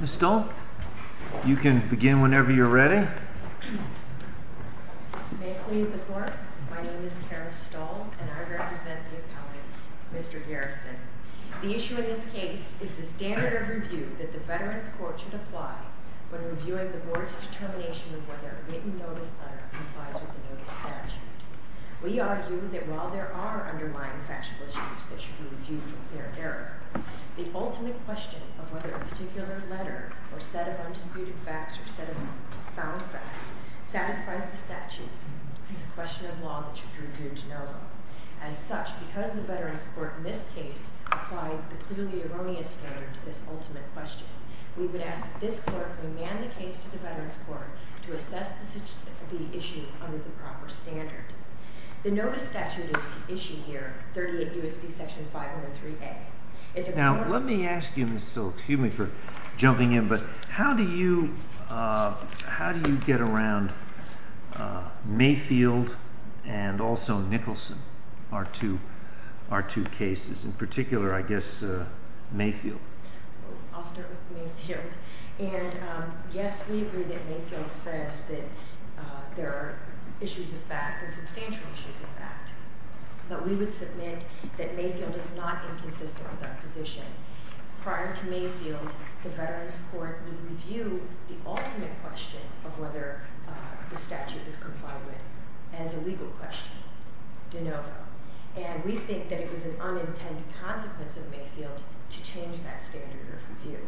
Ms. Stull, you can begin whenever you're ready. May it please the Court, my name is Karen Stull and I represent the appellant, Mr. Garrison. The issue in this case is the standard of review that the Veterans Court should apply when reviewing the Board's determination of whether a written notice letter complies with the Notice Statute. We argue that while there are underlying factual issues that should be reviewed for clear error, the ultimate question of whether a particular letter or set of undisputed facts or set of found facts satisfies the statute is a question of law that should be reviewed to know them. As such, because the Veterans Court in this case applied the clearly erroneous standard to this ultimate question, we would ask that this Court remand the case to the Veterans Court to assess the issue under the proper standard. The Notice Statute is issued here, 38 U.S.C. section 503A. Now let me ask you Ms. Stull, excuse me for jumping in, but how do you get around Mayfield and also Nicholson, our two cases, in particular I guess Mayfield? Thank you. I'll start with Mayfield. And yes, we agree that Mayfield says that there are issues of fact, substantial issues of fact, but we would submit that Mayfield is not inconsistent with our position. Prior to Mayfield, the Veterans Court would review the ultimate question of whether the statute is complied with as a legal question, de novo. And we think that it was an unintended consequence of Mayfield to change that standard of review.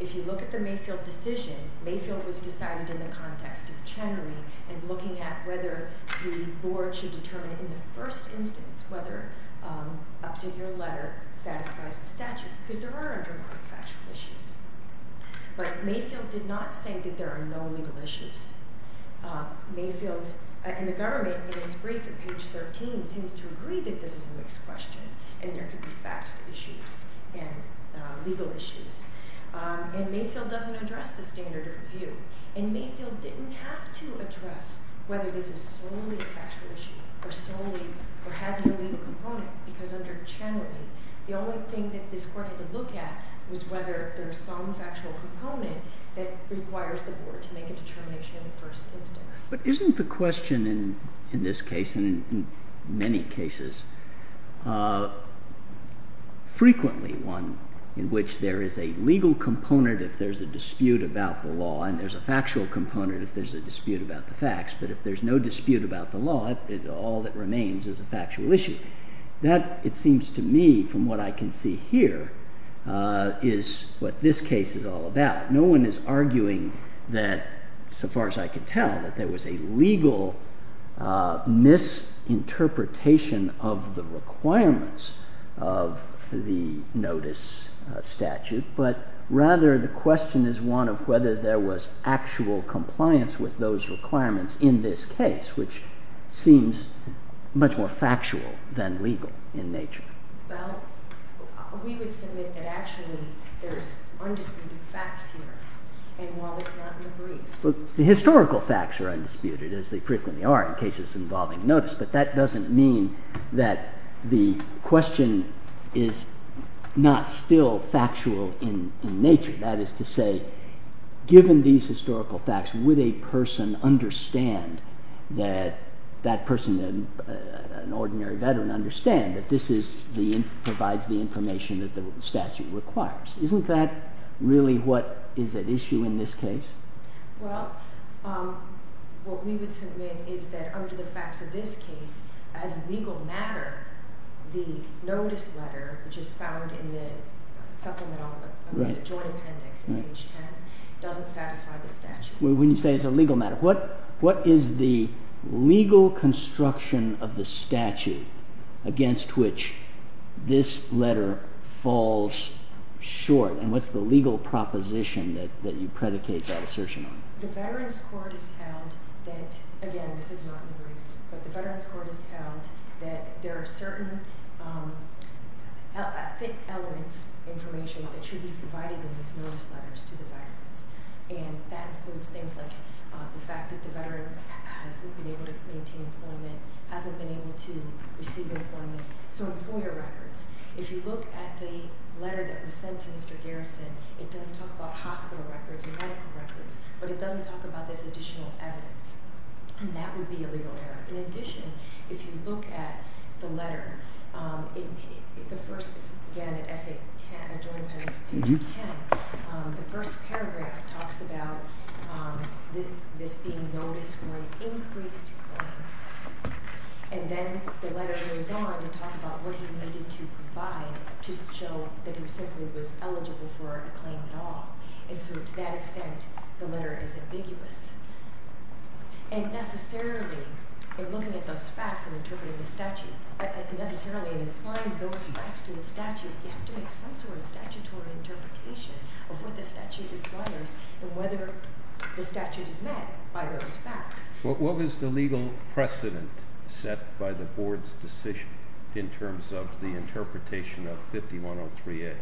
If you look at the Mayfield decision, Mayfield was decided in the context of Chenery and looking at whether the Board should determine in the first instance whether up to your letter satisfies the statute, because there are a number of factual issues. But Mayfield did not say that there are no legal issues. Mayfield and the government in its brief at page 13 seems to agree that this is a mixed question and there could be facts issues and legal issues. And Mayfield doesn't address the standard of review. And Mayfield didn't have to address whether this is solely a factual issue or solely or has no legal component, because under Chenery, the only thing that this Court had to look at was whether there's some factual component that requires the Board to make a determination in the first instance. But isn't the question in this case, and in many cases, frequently one in which there is a legal component if there's a dispute about the law, and there's a factual component if there's a dispute about the facts, but if there's no dispute about the law, all that remains is a factual issue. That, it seems to me, from what I can see here, is what this case is all about. No one is arguing that, so far as I can tell, that there was a legal misinterpretation of the requirements of the notice statute. But rather, the question is one of whether there was actual compliance with those requirements in this case, which seems much more factual than legal in nature. Well, we would submit that actually there's undisputed facts here, and while it's not in the brief. The historical facts are undisputed, as they frequently are in cases involving notice, but that doesn't mean that the question is not still factual in nature. That is to say, given these historical facts, would a person understand that that person, an ordinary veteran, understand that this provides the information that the statute requires? Isn't that really what is at issue in this case? Well, what we would submit is that under the facts of this case, as a legal matter, the notice letter, which is found in the supplemental joint appendix in page 10, doesn't satisfy the statute. When you say it's a legal matter, what is the legal construction of the statute against which this letter falls short, and what's the legal proposition that you predicate that assertion on? The Veterans Court has held that, again, this is not in the briefs, but the Veterans Court has held that there are certain elements, information, that should be provided in these notice letters to the veterans. And that includes things like the fact that the veteran hasn't been able to maintain employment, hasn't been able to receive employment. So employer records, if you look at the letter that was sent to Mr. Garrison, it does talk about hospital records and medical records, but it doesn't talk about this additional evidence. And that would be a legal error. In addition, if you look at the letter, the first, again, at joint appendix page 10, the first paragraph talks about this being noticed for an increased claim. And then the letter goes on to talk about what he needed to provide to show that he simply was eligible for a claim at all. And so to that extent, the letter is ambiguous. And necessarily, in looking at those facts and interpreting the statute, necessarily in applying those facts to the statute, you have to make some sort of statutory interpretation of what the statute requires and whether the statute is met by those facts. What was the legal precedent set by the board's decision in terms of the interpretation of 5103A?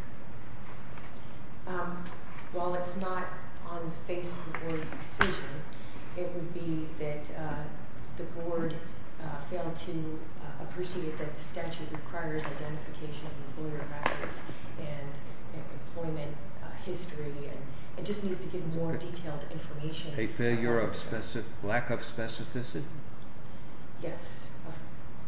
While it's not on the face of the board's decision, it would be that the board failed to appreciate that the statute requires identification of employer records and employment history. It just needs to give more detailed information. A lack of specificity? Yes, of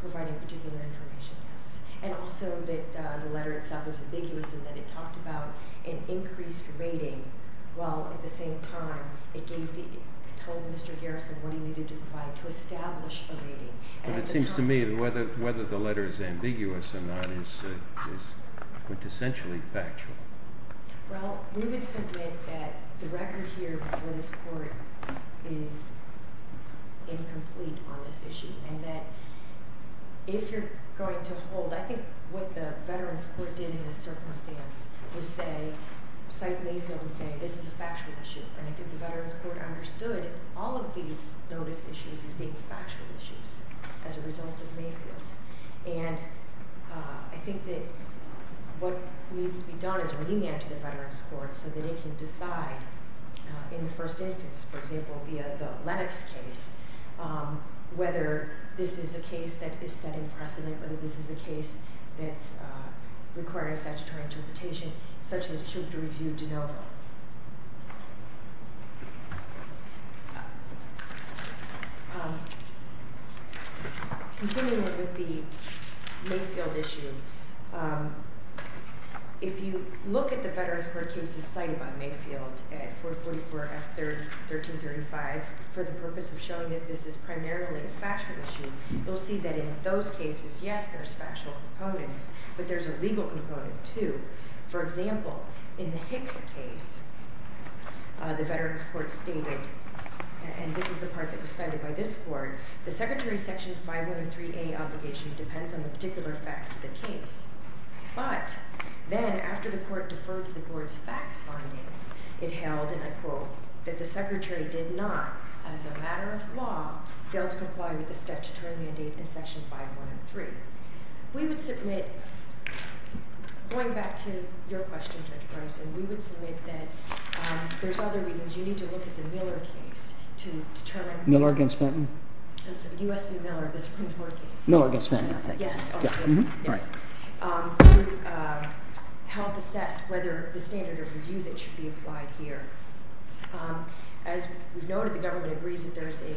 providing particular information, yes. And also that the letter itself is ambiguous in that it talked about an increased rating, while at the same time, it told Mr. Garrison what he needed to provide to establish a rating. But it seems to me that whether the letter is ambiguous or not is quintessentially factual. Well, we would submit that the record here before this court is incomplete on this issue. And that if you're going to hold, I think what the Veterans Court did in this circumstance was cite Mayfield and say, this is a factual issue. And I think the Veterans Court understood all of these notice issues as being factual issues as a result of Mayfield. And I think that what needs to be done is rename it to the Veterans Court so that it can decide in the first instance, for example, via the Lennox case, whether this is a case that is setting precedent, whether this is a case that's requiring statutory interpretation such that it should be reviewed de novo. Continuing with the Mayfield issue, if you look at the Veterans Court cases cited by Mayfield at 444F1335 for the purpose of showing that this is primarily a factual issue, you'll see that in those cases, yes, there's factual components, but there's a legal component too. For example, in the Hicks case, the Veterans Court stated, and this is the part that was cited by this court, the secretary's section 5103A obligation depends on the particular facts of the case. But then after the court deferred to the board's facts findings, it held, and I quote, that the secretary did not, as a matter of law, fail to comply with the statutory mandate in section 5103. We would submit, going back to your question, Judge Bryson, we would submit that there's other reasons. You need to look at the Miller case to determine... Miller v. Fenton? U.S. v. Miller, the Supreme Court case. Miller v. Fenton, I think. Yes. All right. To help assess whether the standard of review that should be applied here. As we've noted, the government agrees that there's a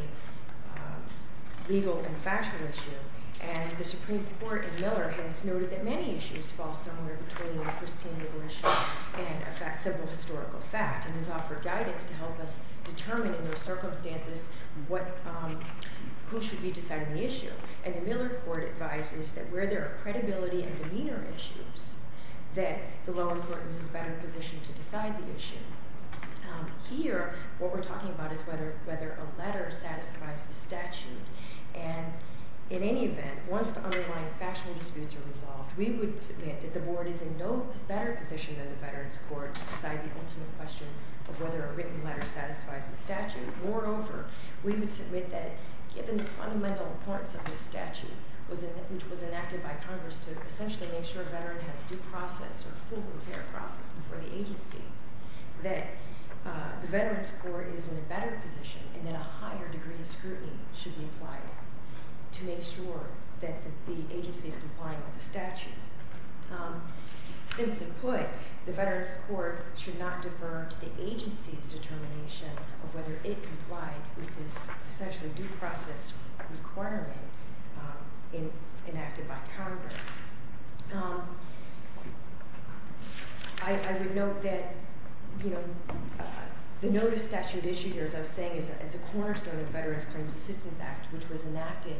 legal and factual issue, and the Supreme Court in Miller has noted that many issues fall somewhere between a pristine legal issue and a simple historical fact, and has offered guidance to help us determine in those circumstances who should be deciding the issue. And the Miller court advises that where there are credibility and demeanor issues, that the low end court is in a better position to decide the issue. Here, what we're talking about is whether a letter satisfies the statute. And in any event, once the underlying factual disputes are resolved, we would submit that the board is in no better position than the Veterans Court to decide the ultimate question of whether a written letter satisfies the statute. Moreover, we would submit that given the fundamental importance of this statute, which was enacted by Congress to essentially make sure a veteran has due process or full and fair process before the agency, that the Veterans Court is in a better position and that a higher degree of scrutiny should be applied to make sure that the agency is complying with the statute. Simply put, the Veterans Court should not defer to the agency's determination of whether it complied with this essentially due process requirement enacted by Congress. I would note that the notice statute issue here, as I was saying, is a cornerstone of Veterans Claims Assistance Act, which was enacted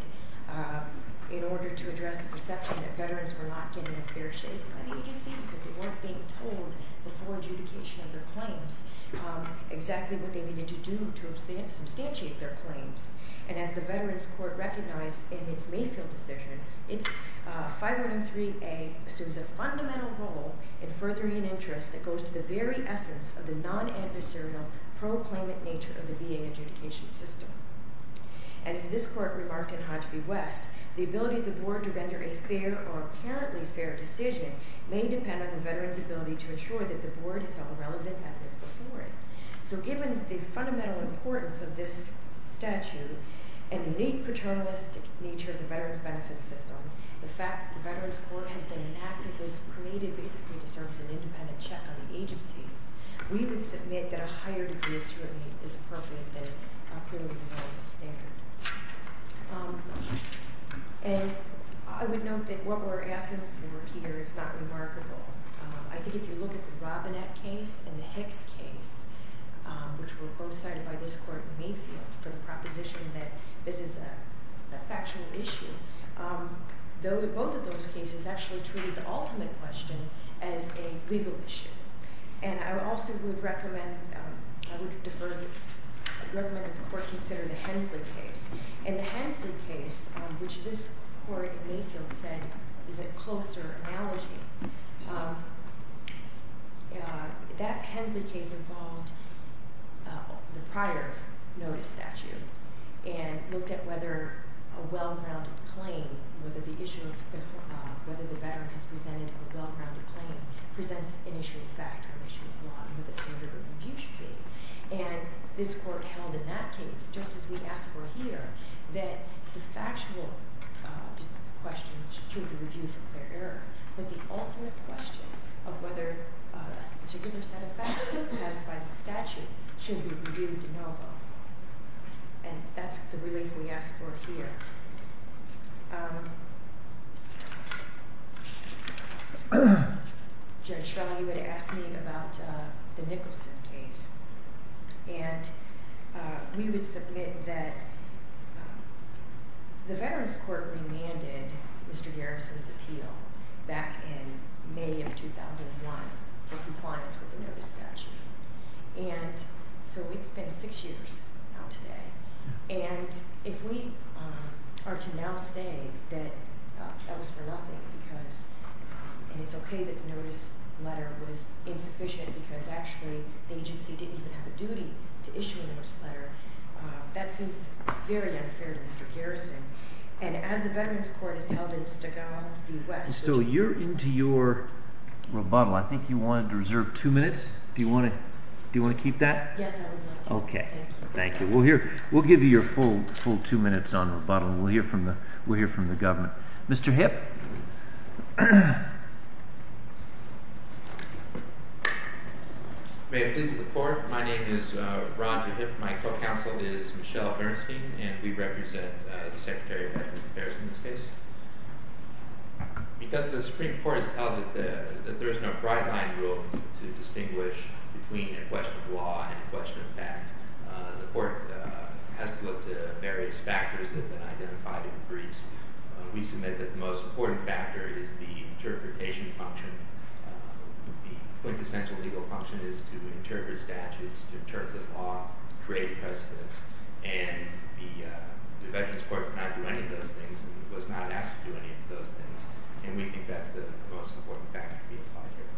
in order to address the perception that veterans were not getting a fair shake by the agency because they weren't being told before adjudication of their claims exactly what they needed to do to substantiate their claims. And as the Veterans Court recognized in its Mayfield decision, 5103A assumes a fundamental role in furthering an interest that goes to the very essence of the non-adversarial pro-claimant nature of the VA adjudication system. And as this court remarked in Hodge v. West, the ability of the board to render a fair or apparently fair decision may depend on the veterans' ability to ensure that the board has all the relevant evidence before it. So given the fundamental importance of this statute and the unique paternalistic nature of the veterans' benefits system, the fact that the Veterans Court has been enacted was created basically to serve as an independent check on the agency, we would submit that a higher degree of scrutiny is appropriate than a clearly developed standard. And I would note that what we're asking for here is not remarkable. I think if you look at the Robinette case and the Hicks case, which were both cited by this court in Mayfield for the proposition that this is a factual issue, both of those cases actually treated the ultimate question as a legal issue. And I also would recommend that the court consider the Hensley case. And the Hensley case, which this court in Mayfield said is a closer analogy, that Hensley case involved the prior notice statute and looked at whether a well-grounded claim, whether the issue of whether the veteran has presented a well-grounded claim, presents an issue of fact or an issue of law under the standard of review scheme. And this court held in that case, just as we ask for here, that the factual questions should be reviewed for clear error, but the ultimate question of whether a particular set of facts satisfies the statute should be reviewed de novo. And that's the relief we ask for here. Judge Schreller, you had asked me about the Nicholson case. And we would submit that the Veterans Court remanded Mr. Garrison's appeal back in May of 2001 for compliance with the notice statute. And so it's been six years now today. And if we are to now say that that was for nothing because, and it's okay that the notice letter was insufficient because actually the agency didn't even have a duty to issue a notice letter, that seems very unfair to Mr. Garrison. And as the Veterans Court is held in Stagall, U.S. So you're into your rebuttal. I think you wanted to reserve two minutes. Do you want to keep that? Yes, I would love to. Okay. Thank you. We'll give you your full two minutes on rebuttal, and we'll hear from the government. Mr. Hipp. May it please the Court, my name is Roger Hipp. My co-counsel is Michelle Bernstein, and we represent the Secretary of Veterans Affairs in this case. Because the Supreme Court has held that there is no bright line rule to distinguish between a question of law and a question of fact, the Court has to look to various factors that have been identified in the briefs. We submit that the most important factor is the interpretation function. The quintessential legal function is to interpret statutes, to interpret the law, create precedents. And the Veterans Court cannot do any of those things and was not asked to do any of those things, and we think that's the most important factor to be implied here.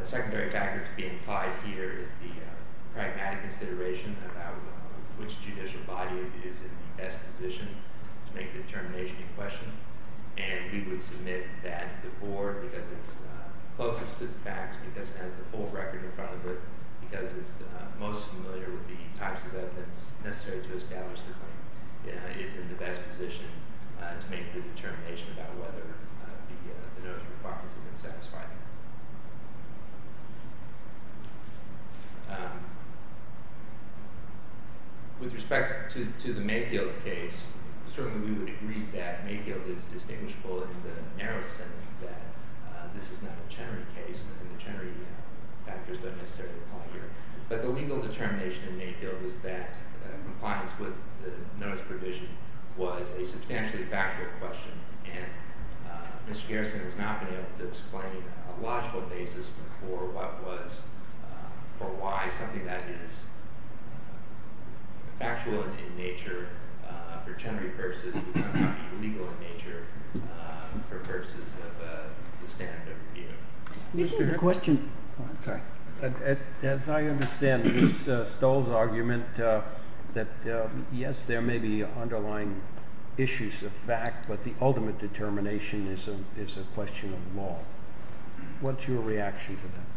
A secondary factor to be implied here is the pragmatic consideration about which judicial body is in the best position to make the determination in question. And we would submit that the Board, because it's closest to the facts, because it has the full record in front of it, because it's most familiar with the types of evidence necessary to establish the claim, is in the best position to make the determination about whether the notice requirements have been satisfied. With respect to the Mayfield case, certainly we would agree that Mayfield is distinguishable in the narrow sense that this is not a Chenery case, and the Chenery factors don't necessarily apply here. But the legal determination in Mayfield is that compliance with the notice provision was a substantially factual question, and Mr. Garrison has not been able to explain a logical basis for why something that is factual in nature for Chenery purposes is sometimes illegal in nature for purposes of the standard of review. As I understand Mr. Stoll's argument, yes, there may be underlying issues of fact, but the ultimate determination is a question of law. What's your reaction to that?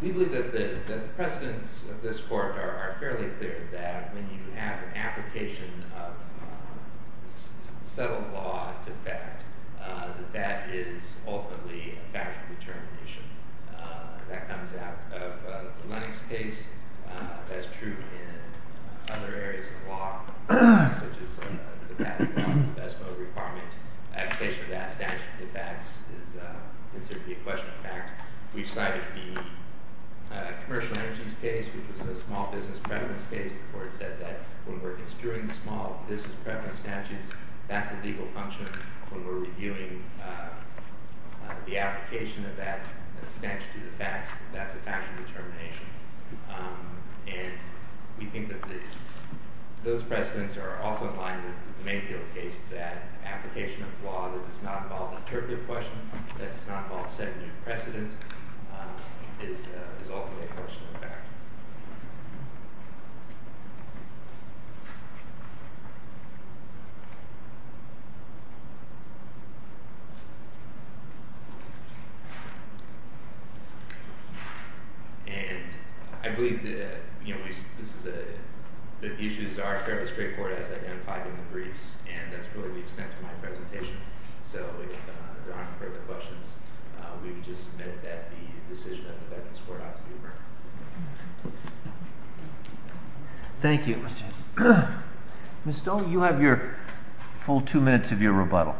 We believe that the precedents of this Court are fairly clear that when you have an application of settled law into fact, that that is ultimately a factual determination. That comes out of the Lennox case. That's true in other areas of law, such as the patent law and investment law requirement. Application of that statute into facts is considered to be a question of fact. We've cited the commercial energies case, which was a small business preference case. The Court said that when we're construing the small business preference statutes, that's a legal function. When we're reviewing the application of that statute into facts, that's a factual determination. We think that those precedents are also in line with the Mayfield case, that application of law that does not involve an interpretative question, that does not involve setting a precedent, is ultimately a question of fact. Thank you. And I believe that the issues are fairly straightforward as identified in the briefs, and that's really the extent of my presentation. So if there aren't further questions, we would just submit that the decision of the Veterans Court ought to be reviewed. Thank you. Ms. Stoll, you have your full two minutes of your rebuttal.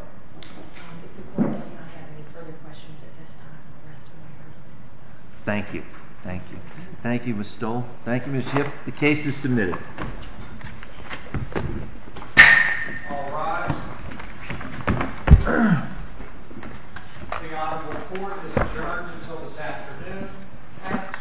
Thank you. Thank you. Thank you, Ms. Stoll. Thank you, Ms. Hipp. The case is submitted. All rise. The audit report is adjourned until this afternoon. Acts to apply.